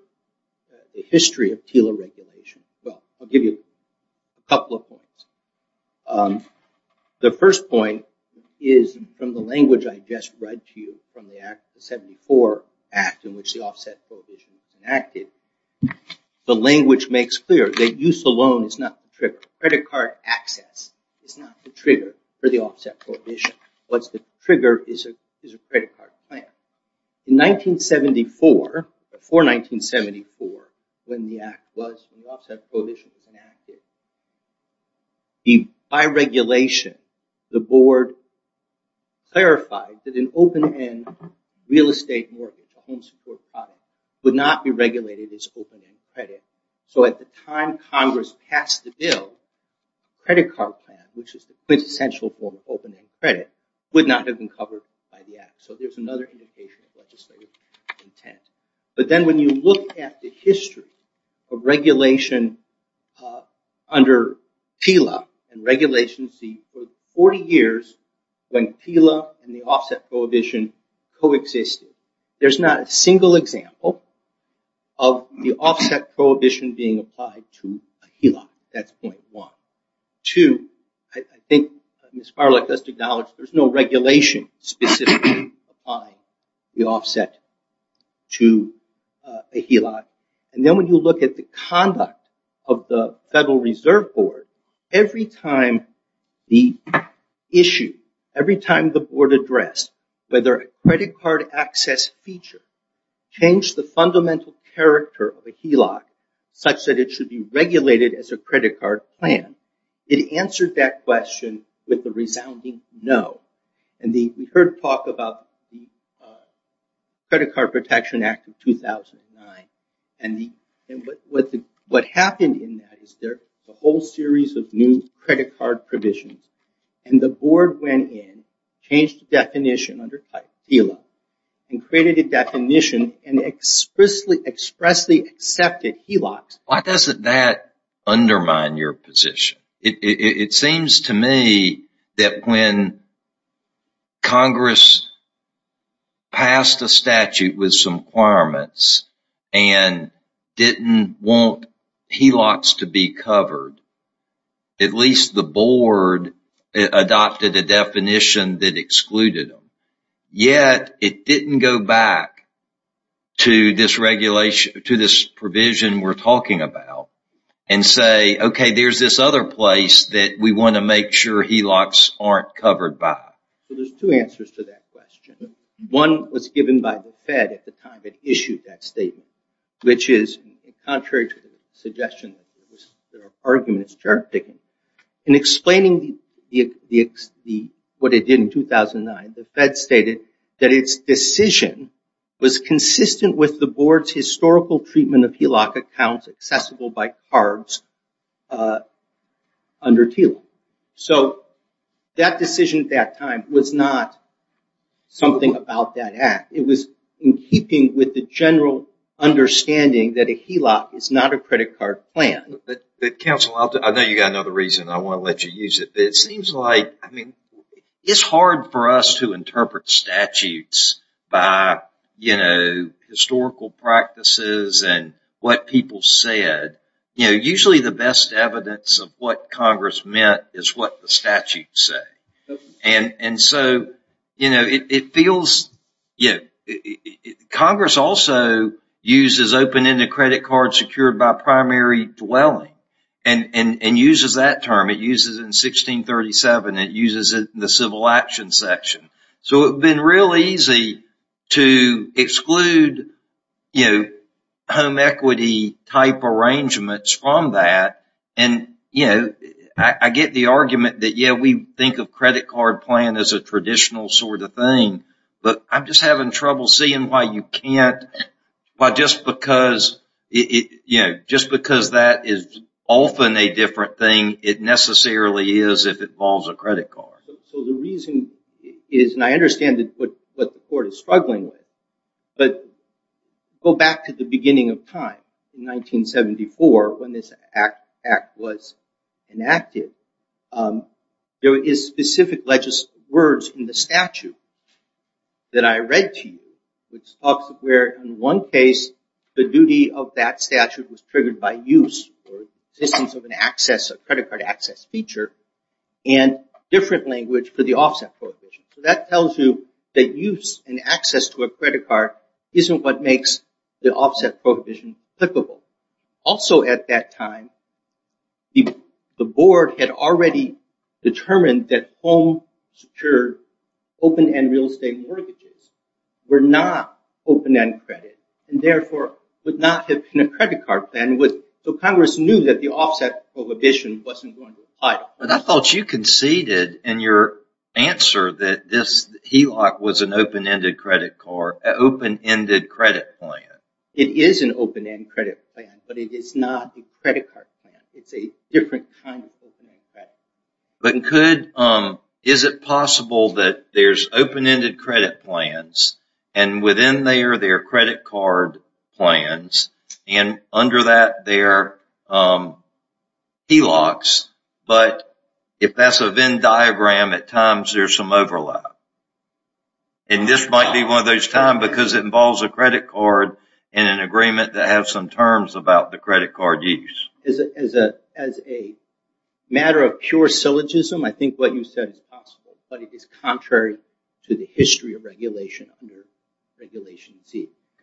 the history of TILA regulation, well, I'll give you a couple of points. The first point is, from the language I just read to you from the Act, the 74 Act, in which the Offset Prohibition was enacted, the language makes clear that use alone is not the trigger. Credit card access is not the trigger for the Offset Prohibition. What's 1974, before 1974, when the Act was, when the Offset Prohibition was enacted, by regulation, the board clarified that an open-end real estate mortgage, a home support product, would not be regulated as open-end credit. So, at the time Congress passed the bill, credit card plan, which is the quintessential form of open-end credit, would not have been intended. But then when you look at the history of regulation under TILA and regulations for 40 years, when TILA and the Offset Prohibition coexisted, there's not a single example of the Offset Prohibition being applied to a TILA. That's point one. Two, I think Ms. Farley just acknowledged, there's no offset to a HELOC. And then when you look at the conduct of the Federal Reserve Board, every time the issue, every time the board addressed whether a credit card access feature changed the fundamental character of a HELOC, such that it should be regulated as a credit card plan, it answered that question with a resounding no. And we heard talk about the Credit Card Protection Act of 2009, and what happened in that is there's a whole series of new credit card provisions, and the board went in, changed the definition under TILA, and created a definition and expressly accepted HELOCs. Why doesn't that undermine your position? It seems to me that when Congress passed a statute with some requirements and didn't want HELOCs to be covered, at least the board adopted a definition that excluded them. Yet it didn't go back to this regulation, to this provision we're talking about, and say, okay, there's this other place that we want to make sure HELOCs aren't covered by. There's two answers to that question. One was given by the Fed at the time it issued that statement, which is contrary to the suggestion, there are arguments. In explaining what it did in 2009, the Fed stated that its decision was consistent with the board's historical treatment of HELOC accounts accessible by cards under TILA. So that decision at that time was not something about that act. It was in keeping with the general understanding that a HELOC is not a credit card plan. Counsel, I know you got another reason. I want to let you use it. It seems like, I interpret statutes by historical practices and what people said. Usually the best evidence of what Congress meant is what the statutes say. Congress also uses open-ended credit cards secured by primary dwelling and uses that term. It uses it in 1637. It uses it in the Civil Action section. So it's been real easy to exclude home equity type arrangements from that. I get the argument that we think of credit card plan as a traditional sort of thing, but I'm just having trouble seeing why you can't. Just because that is often a credit card. So the reason is, and I understand that what the court is struggling with, but go back to the beginning of time in 1974 when this act was enacted. There is specific words in the statute that I read to you which talks of where in one case the duty of that statute was triggered by use or existence of an access, a credit card access feature and different language for the offset prohibition. So that tells you that use and access to a credit card isn't what makes the offset prohibition applicable. Also at that time the board had already determined that home secured open-end real estate mortgages were not open-end credit and therefore would not have been a credit card plan. So Congress knew that the offset prohibition wasn't going to apply. But I thought you conceded in your answer that this HELOC was an open-ended credit card, an open-ended credit plan. It is an open-end credit plan, but it is not a credit card plan. It's a different kind of open-end credit plan. But is it possible that there's credit card plans and under that there are HELOCs, but if that's a Venn diagram at times there's some overlap. And this might be one of those times because it involves a credit card and an agreement that has some terms about the credit card use. As a matter of pure syllogism I think what you said is possible, but it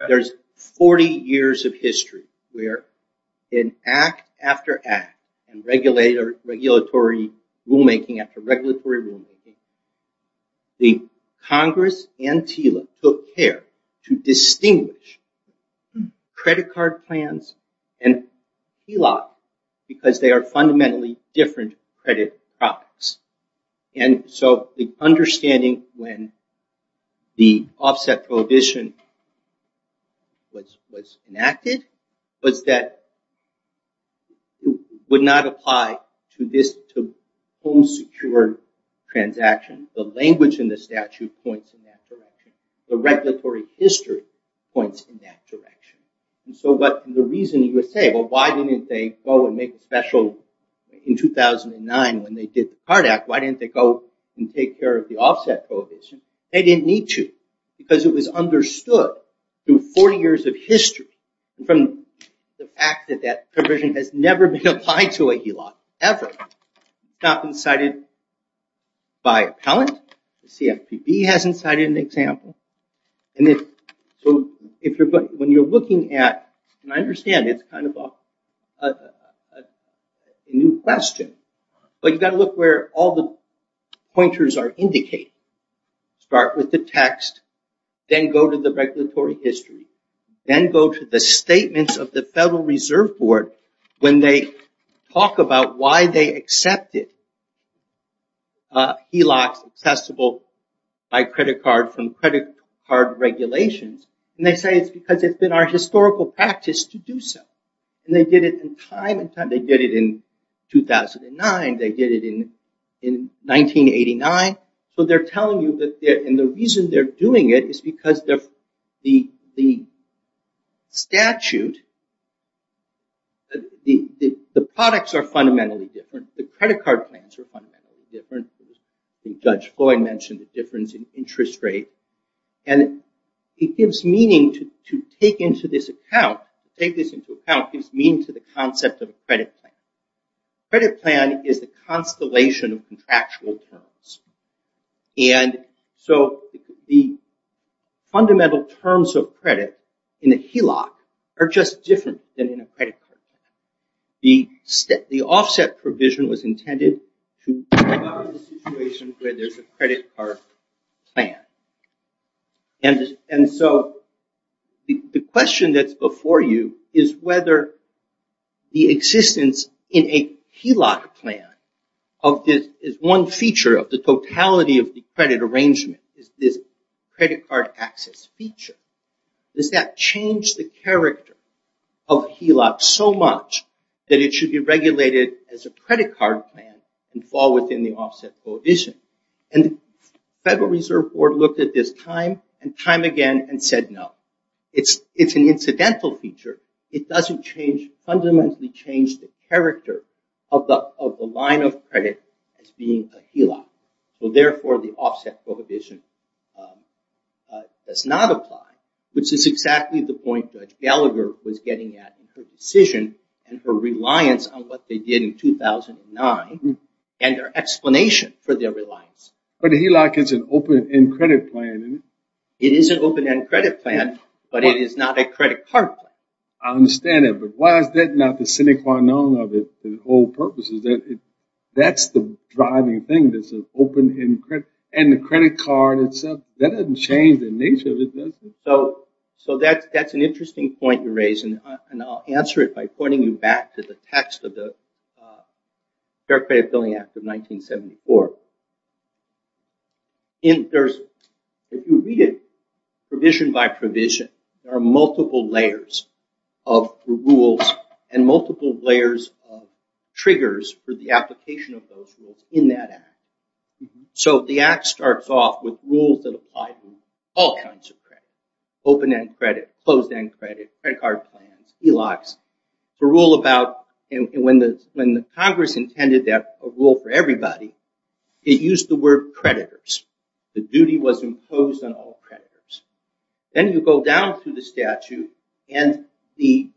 There's 40 years of history where in act after act and regulatory rulemaking after regulatory rulemaking, the Congress and TILA took care to distinguish credit card plans and HELOCs because they are fundamentally different credit products. And so the understanding when the offset prohibition was enacted was that it would not apply to this home secure transaction. The language in the statute points in that direction. The regulatory history points in that direction. And so what the reason you say well why didn't they go and make a special in 2009 when they did the CARD Act, why didn't they go and take care of the offset prohibition? They didn't need to because it was understood through 40 years of history from the fact that that provision has never been applied to a HELOC ever. It's not been cited by appellant. The CFPB hasn't cited an example. And so when you're looking at, and I understand it's kind of a new question, but you've got to look where all the pointers are indicated. Start with the text, then go to the regulatory history, then go to the statements of the Federal Reserve Board when they talk about why they accepted HELOCs accessible by credit card from our historical practice to do so. And they did it in time, they did it in 2009, they did it in 1989. So they're telling you that and the reason they're doing it is because the statute, the products are fundamentally different, the credit card plans are fundamentally different. Judge Floyd mentioned the interest rate and it gives meaning to take into this account, take this into account, gives meaning to the concept of a credit plan. Credit plan is the constellation of contractual terms. And so the fundamental terms of credit in the HELOC are just different than in a credit card plan. The offset provision was plan. And so the question that's before you is whether the existence in a HELOC plan of this is one feature of the totality of the credit arrangement is this credit card access feature. Does that change the character of HELOC so much that it should be regulated as a credit card plan and fall within the reserve board looked at this time and time again and said no. It's an incidental feature. It doesn't fundamentally change the character of the line of credit as being a HELOC. So therefore the offset prohibition does not apply, which is exactly the point Judge Gallagher was getting at in her decision and her reliance on what they did in 2009 and their explanation for their reliance. But a HELOC is an open-end credit plan. It is an open-end credit plan, but it is not a credit card plan. I understand it, but why is that not the sine qua non of it? The whole purpose is that it that's the driving thing that's an open-end credit. And the credit card itself, that doesn't change the nature of it, does it? So that's an interesting point you raise and I'll answer it by pointing you back to the text of the Fair Credit Billing Act of 1974. If you read it provision by provision, there are multiple layers of rules and multiple layers of triggers for the application of those rules in that act. So the act starts off with rules that apply to all kinds of credit. Open-end credit, closed-end credit, credit card plans, HELOCs. The rule about and when the Congress intended that a rule for everybody, it used the word creditors. The duty was imposed on all creditors. Then you go down through the statute and the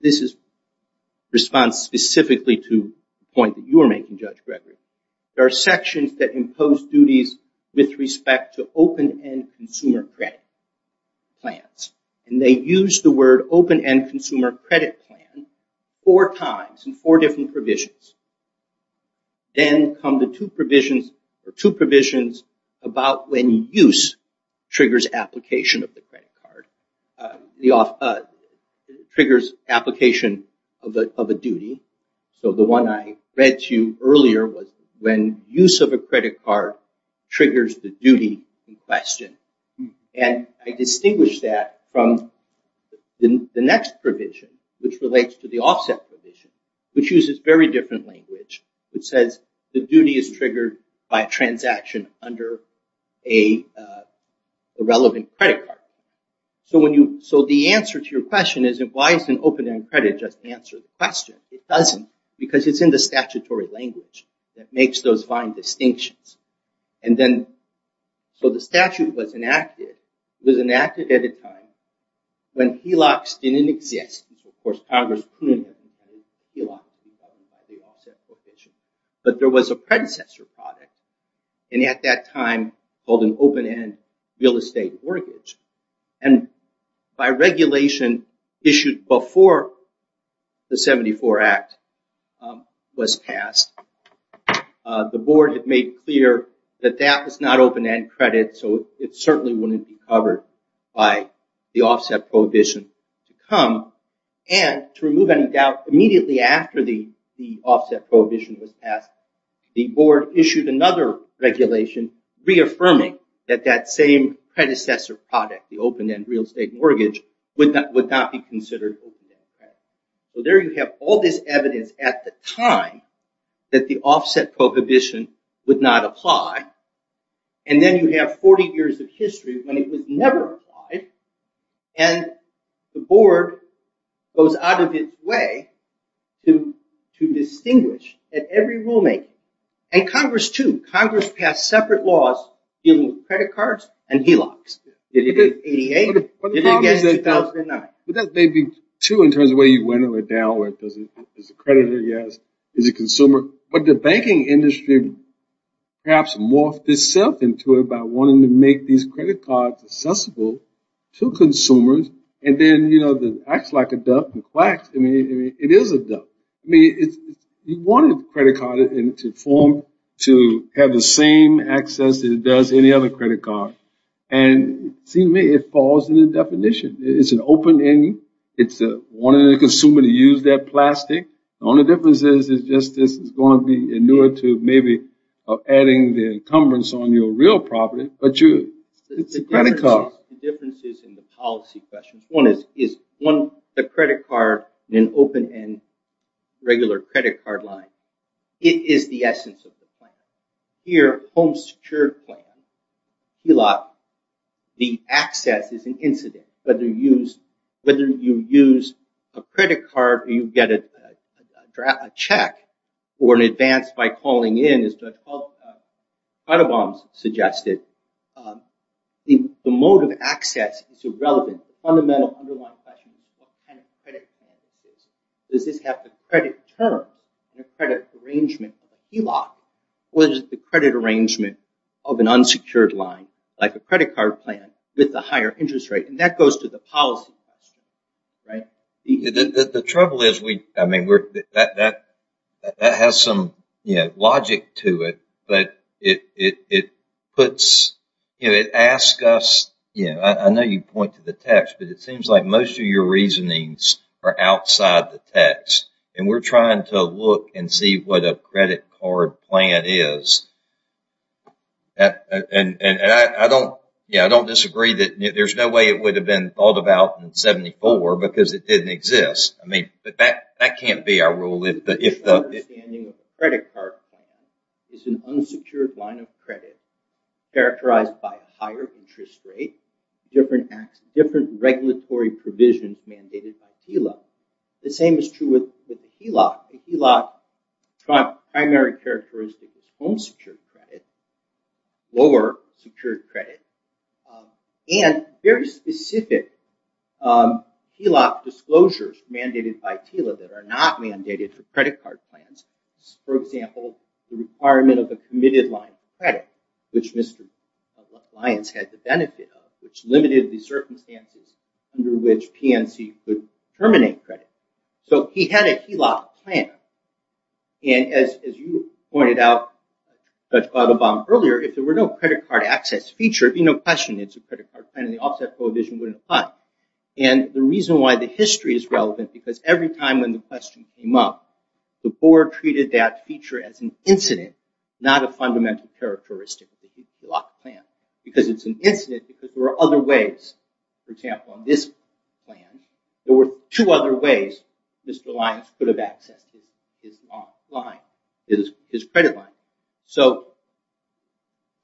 this is response specifically to point that you are making Judge Gregory. There are sections that impose duties with respect to open-end consumer credit plans. And they use the word open-end consumer credit plan four times in four different provisions. Then come the two provisions or two provisions about when use triggers application of the credit card. The triggers application of a duty. So the one I read to you earlier was when use of a credit card triggers the duty in question. And I distinguish that from the next provision which relates to the offset provision which uses very different language which says the duty is triggered by a transaction under a relevant credit card. So when you so the answer to your question is why isn't open-end credit just answer the question. It doesn't because it's in the statutory language that makes those fine distinctions. And then so the statute was enacted was enacted at a But there was a predecessor product and at that time called an open-end real estate mortgage. And by regulation issued before the 74 Act was passed the board had made clear that that was not open-end credit so it certainly wouldn't be covered by the offset prohibition to come. And to remove any doubt immediately after the the offset prohibition was passed the board issued another regulation reaffirming that that same predecessor product the open-end real estate mortgage would not would not be considered. So there you have all this evidence at the time that the offset prohibition would not apply. And then you have 40 years of history when it was never applied. And the board goes out of its way to to distinguish at every rulemaking. And Congress too. Congress passed separate laws dealing with credit cards and HELOCs. But that may be true in terms of where you went or down where it doesn't there's a creditor yes is a consumer. But the banking industry perhaps morphed itself into it by wanting to make these credit cards accessible to consumers. And then you know the acts like a duck and quacks. I mean it is a duck. I mean it's you wanted credit card into form to have the same access it does any other credit card. And see me it falls in the definition. It's an open-end. It's a wanted a consumer to use that plastic. Only difference is it's just this is the enumerative maybe of adding the encumbrance on your real property. But you it's a credit card. One is is one the credit card in open-end regular credit card line. It is the essence of the plan. Here home secured plan. HELOC the access is an incident. Whether you use whether you use a credit card you get a check or an advance by calling in as Judge Cuddebombs suggested. The motive access is irrelevant. The fundamental underlying question is what kind of credit plan is this? Does this have the credit term and a credit arrangement of a HELOC? Or is it the credit arrangement of an unsecured line like a credit card plan with the higher interest rate? And that goes to the policy question. Right? The trouble is we I mean that has some logic to it. But it puts you know it asks us you know I know you point to the text but it seems like most of your reasonings are outside the text. And we're trying to look and see what a credit card plan is. And I don't you know I don't disagree that there's no way it would have been thought about in 74 because it didn't exist. I mean but that that can't be our rule. If the credit card is an unsecured line of credit characterized by a higher interest rate different acts different regulatory provisions mandated by HELOC. The same is true with HELOC. HELOC primary characteristic is home secured credit lower secured credit and very specific HELOC disclosures mandated by TILA that are not mandated for credit card plans. For example the requirement of a committed line of credit which Mr. Lyons had the benefit of which limited the circumstances under which PNC could terminate credit. So he had a HELOC plan and as you pointed out Judge Gladelbaum earlier if there were no credit card access feature it'd be no question it's a credit card plan and the offset prohibition wouldn't apply. And the reason why the history is relevant because every time when the question came up the board treated that feature as an incident not a fundamental characteristic of the HELOC plan. Because it's an incident because there are other ways. For example on this plan there were two other ways Mr. Lyons could have accessed his line, his credit line. So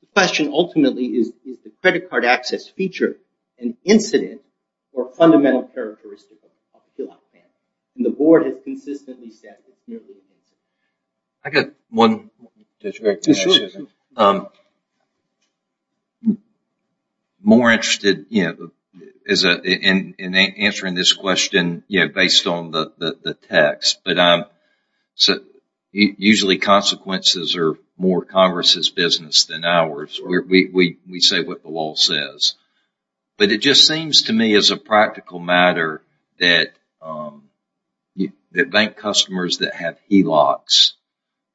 the question ultimately is the credit card access feature an incident or fundamental characteristic of the HELOC plan? And the board has consistently said it's merely an incident. I got one more question. I'm more interested in answering this question based on the text. But usually consequences are more Congress's business than ours. We say what the law says. But it just seems to me as a practical matter that bank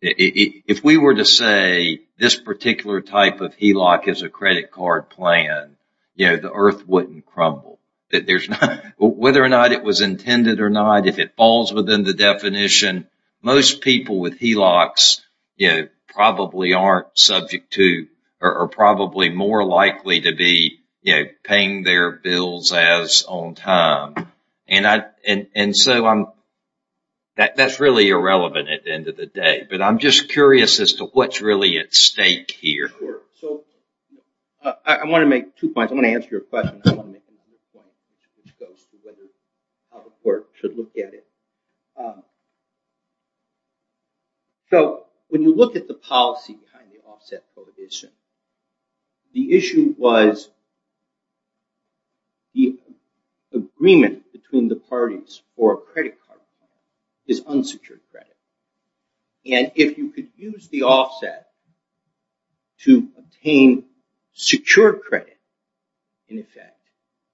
if we were to say this particular type of HELOC is a credit card plan you know the earth wouldn't crumble. That there's not whether or not it was intended or not if it falls within the definition most people with HELOCs you know probably aren't subject to or probably more likely to be you know paying their relevant at the end of the day. But I'm just curious as to what's really at stake here. So I want to make two points. I want to answer your question which goes to how the court should look at it. So when you look at the policy behind the offset prohibition the issue was the agreement between the parties for a credit card is unsecured credit. And if you could use the offset to obtain secure credit in effect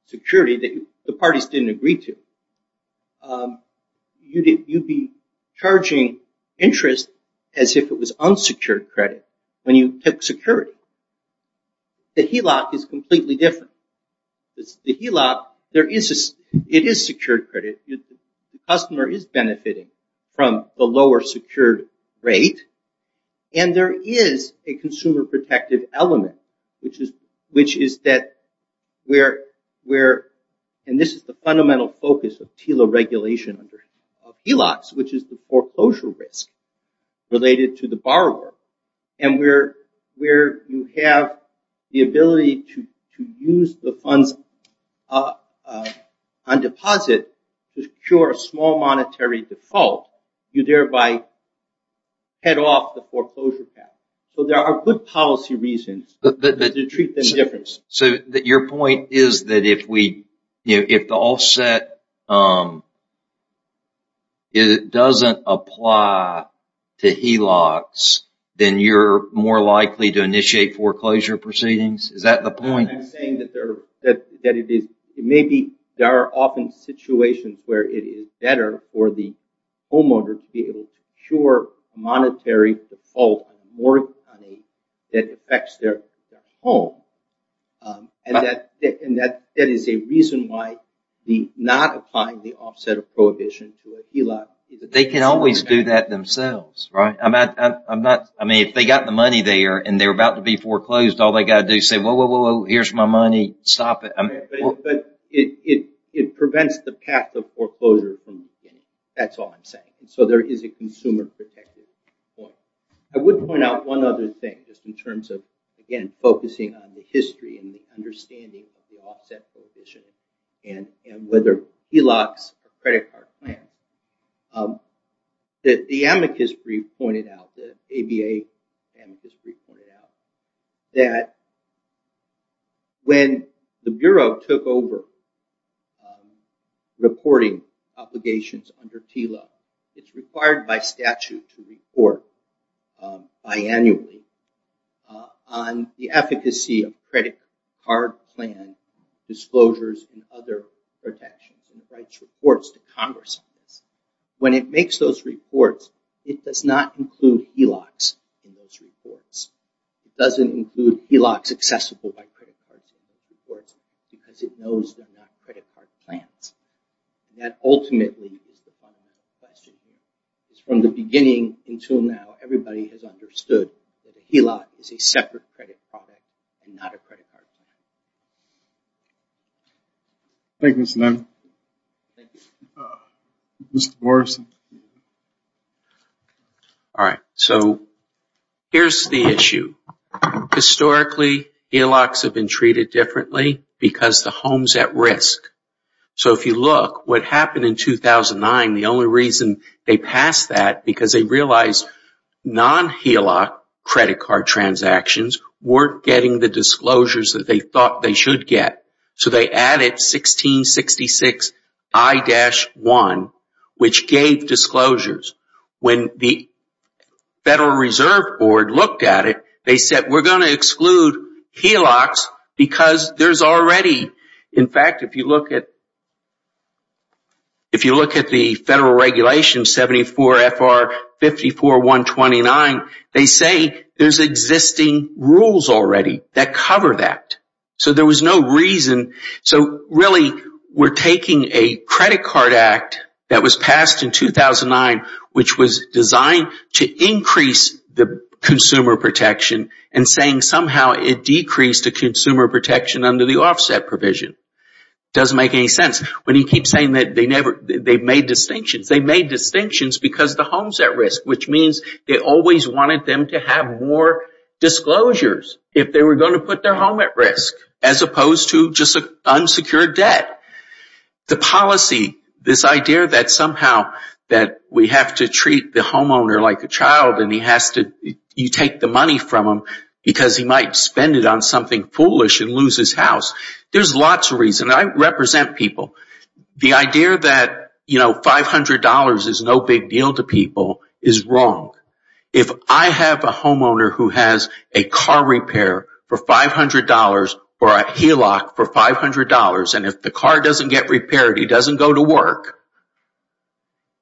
security that the parties didn't agree to you'd be charging interest as if it was unsecured credit when you took security. The HELOC is completely different. The HELOC there is this it is secured credit. The customer is benefiting from the lower secured rate and there is a consumer protective element which is which is that where we're and this is the fundamental focus of TILA regulation under HELOCs which is the foreclosure risk related to the use the funds on deposit to secure a small monetary default you thereby head off the foreclosure path. So there are good policy reasons to treat this difference. So that your point is that if we you know if the offset it doesn't apply to HELOCs then you're more likely to initiate foreclosure proceedings. Is that the point? I'm saying that there that it is it may be there are often situations where it is better for the homeowner to be able to secure monetary default on more money that affects their home. And that is a reason why the not applying the offset of prohibition to a HELOC. They can always do that themselves right? I'm not I mean if they got the money there and they're about to be foreclosed all they got to do say whoa whoa whoa whoa here's my money stop it. But it prevents the path of foreclosure. That's all I'm saying. So there is a consumer protective point. I would point out one other thing just in terms of again focusing on the history and the understanding of the offset prohibition and whether HELOCs a credit card plan that the amicus brief pointed out the ABA amicus brief pointed out that when the Bureau took over reporting obligations under TLOC it's required by statute to report biannually on the efficacy of credit card plan disclosures and other protections and writes reports to Congress. When it makes those reports it does not include HELOCs in those reports. It doesn't include HELOCs accessible by credit cards in those reports because it knows they're not credit card plans. That ultimately from the beginning until now everybody has understood that a HELOC is a All right so here's the issue. Historically HELOCs have been treated differently because the home's at risk. So if you look what happened in 2009 the only reason they passed that because they realized non-HELOC credit card transactions weren't getting the disclosures that they thought they Federal Reserve Board looked at it they said we're going to exclude HELOCs because there's already in fact if you look at if you look at the federal regulation 74 FR 54 129 they say there's existing rules already that cover that so there was no reason so really we're taking a credit card act that was passed in 2009 which was designed to increase the consumer protection and saying somehow it decreased the consumer protection under the offset provision doesn't make any sense when you keep saying that they never they've made distinctions they made distinctions because the homes at risk which means they always wanted them to have more disclosures if they were going to put their home at risk as opposed to just a unsecured debt the policy this idea that somehow that we have to treat the homeowner like a child and he has to you take the money from him because he might spend it on something foolish and lose his house there's lots of reason I represent people the idea that you know $500 is no big deal to people is wrong if I have a homeowner who has a car repair for $500 or a HELOC for $500 and if the car doesn't get repaired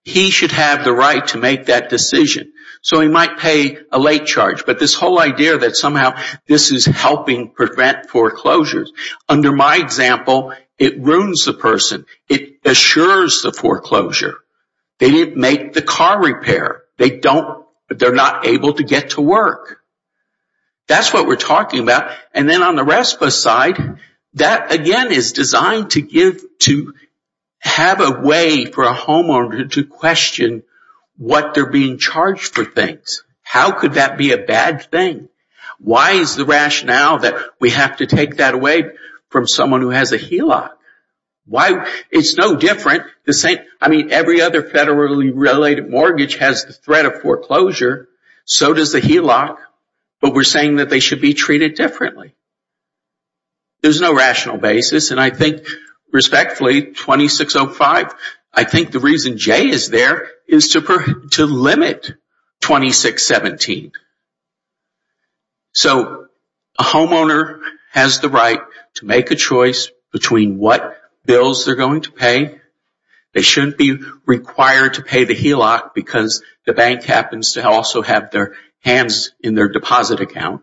he should have the right to make that decision so he might pay a late charge but this whole idea that somehow this is helping prevent foreclosures under my example it ruins the person it assures the foreclosure they didn't make the car repair they don't but they're not able to get to work that's what we're talking about and then on the RESPA side that again is designed to give to have a way for a homeowner to question what they're being charged for things how could that be a bad thing why is the rationale that we have to take that away from someone who has a HELOC why it's no different the same I mean every other federally related mortgage has the threat of foreclosure so does the HELOC but we're saying that they should be treated differently there's no rational basis and I think respectfully 2605 I think the reason Jay is there is to per to limit 2617 so a homeowner has the right to make a choice between what bills they're going to pay they shouldn't be required to pay the HELOC because the bank happens to also have their hands in their deposit account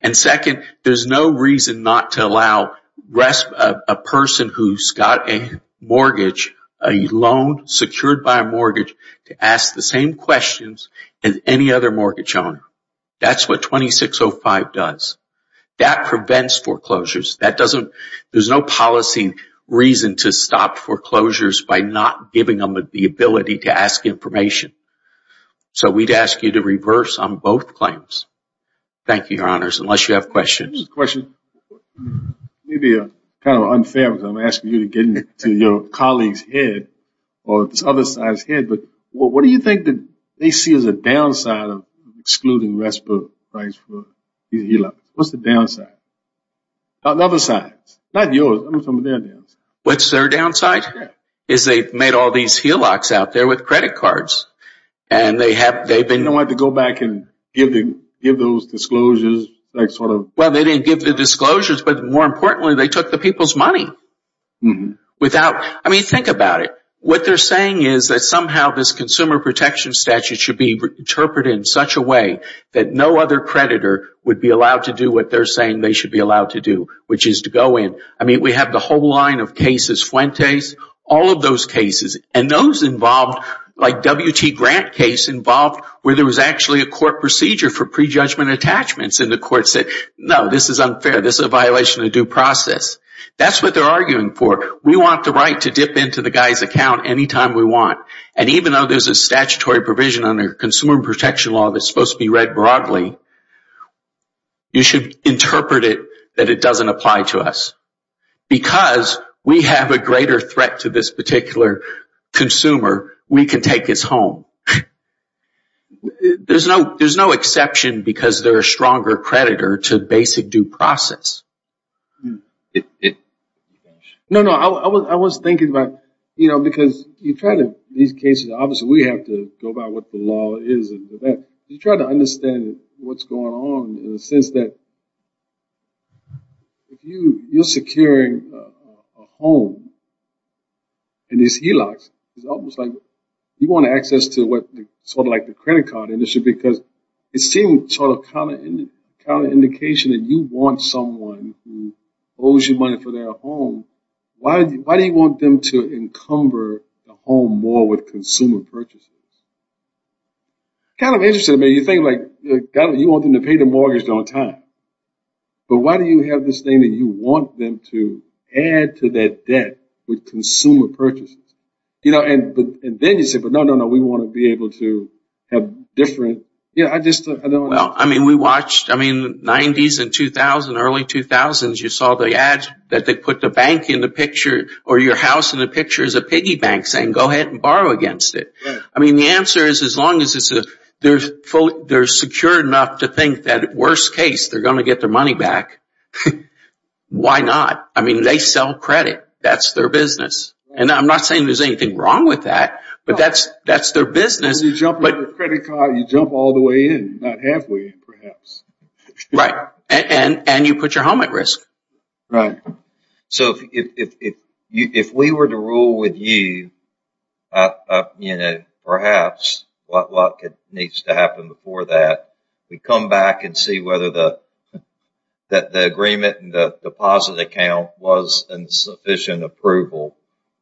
and second there's no reason not to allow rest a person who's got a mortgage a loan secured by a mortgage to ask the same questions and any other mortgage owner that's what 2605 does that prevents foreclosures that doesn't there's no policy reason to stop foreclosures by not giving them the ability to ask information so we'd ask you to reverse on both claims thank you your honors unless you have questions question maybe a kind of unfair because I'm asking you to get into your colleagues head or this other side's head but what do you think that they see as a downside of excluding rest book price for you like what's the downside another side not yours what's their downside is they made all these heel locks out there with credit cards and they have they've been want to go back and give them give those disclosures well they didn't give the disclosures but more importantly they took the people's money without I mean think about it what they're saying is that somehow this consumer protection statute should be interpreted in such a way that no other creditor would be allowed to do what they're saying they should be allowed to do which is to go in I mean we have the whole line of cases Fuentes all of those cases and those involved like WT grant case involved where there was actually a court procedure for prejudgment attachments in the court said no this is unfair this a violation of due process that's what they're arguing for we want the right to dip into the guy's account anytime we want and even though there's a statutory provision on their consumer protection law that's supposed to be read broadly you should interpret it that it doesn't apply to us because we have a greater threat to this particular consumer we can take his home there's no there's no exception because they're a stronger creditor to basic due process no no I was thinking about you know because you try to these cases obviously we have to go about what the law is that you try to understand what's on in a sense that if you you're securing a home in this helix it's almost like you want access to what sort of like the credit card industry because it seemed sort of kind of in the kind of indication that you want someone who owes you money for their home why why do you want them to encumber the home more with consumer purchases kind of interesting to me you think like you want them to pay the mortgage on time but why do you have this thing that you want them to add to that debt with consumer purchases you know and but then you say but no no no we want to be able to have different yeah I just I don't know I mean we watched I mean 90s and 2000 early 2000s you saw the ads that they put the bank in the picture or your house in the picture is a piggy bank saying go ahead and borrow against it I mean the answer is as long as it's a they're secure enough to think that worst case they're going to get their money back why not I mean they sell credit that's their business and I'm not saying there's anything wrong with that but that's that's their business but credit card you jump all the way in not halfway perhaps right and and you put your home at risk right so if you if we were to rule with you you know perhaps what needs to happen before that we come back and see whether the that the agreement and the deposit account was insufficient approval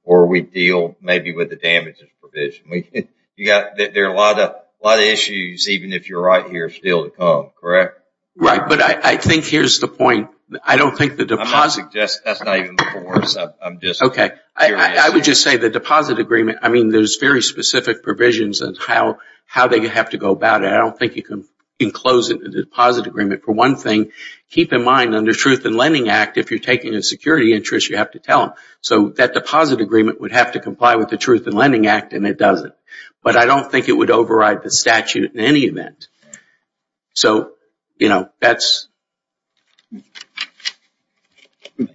or we deal maybe with the damages provision we you got there a lot of a lot of issues even if you're right here still to come correct right but I think here's the point I don't think the deposit just that's not even before I'm just okay I would just say the deposit agreement I mean there's very specific provisions and how how they have to go about it I don't think you can enclose it in the deposit agreement for one thing keep in mind under truth and lending act if you're taking a security interest you have to tell them so that deposit agreement would have to comply with the truth and lending act and it doesn't but I don't think it would override the statute in any event so you know that's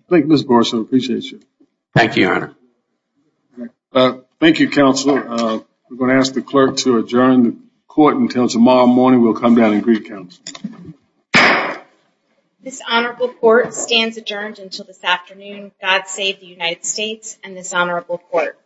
thank you thank you counsel we're going to ask the clerk to adjourn the court until tomorrow morning we'll come down and greet counts this honorable court stands adjourned until this afternoon God save the United States and this honorable court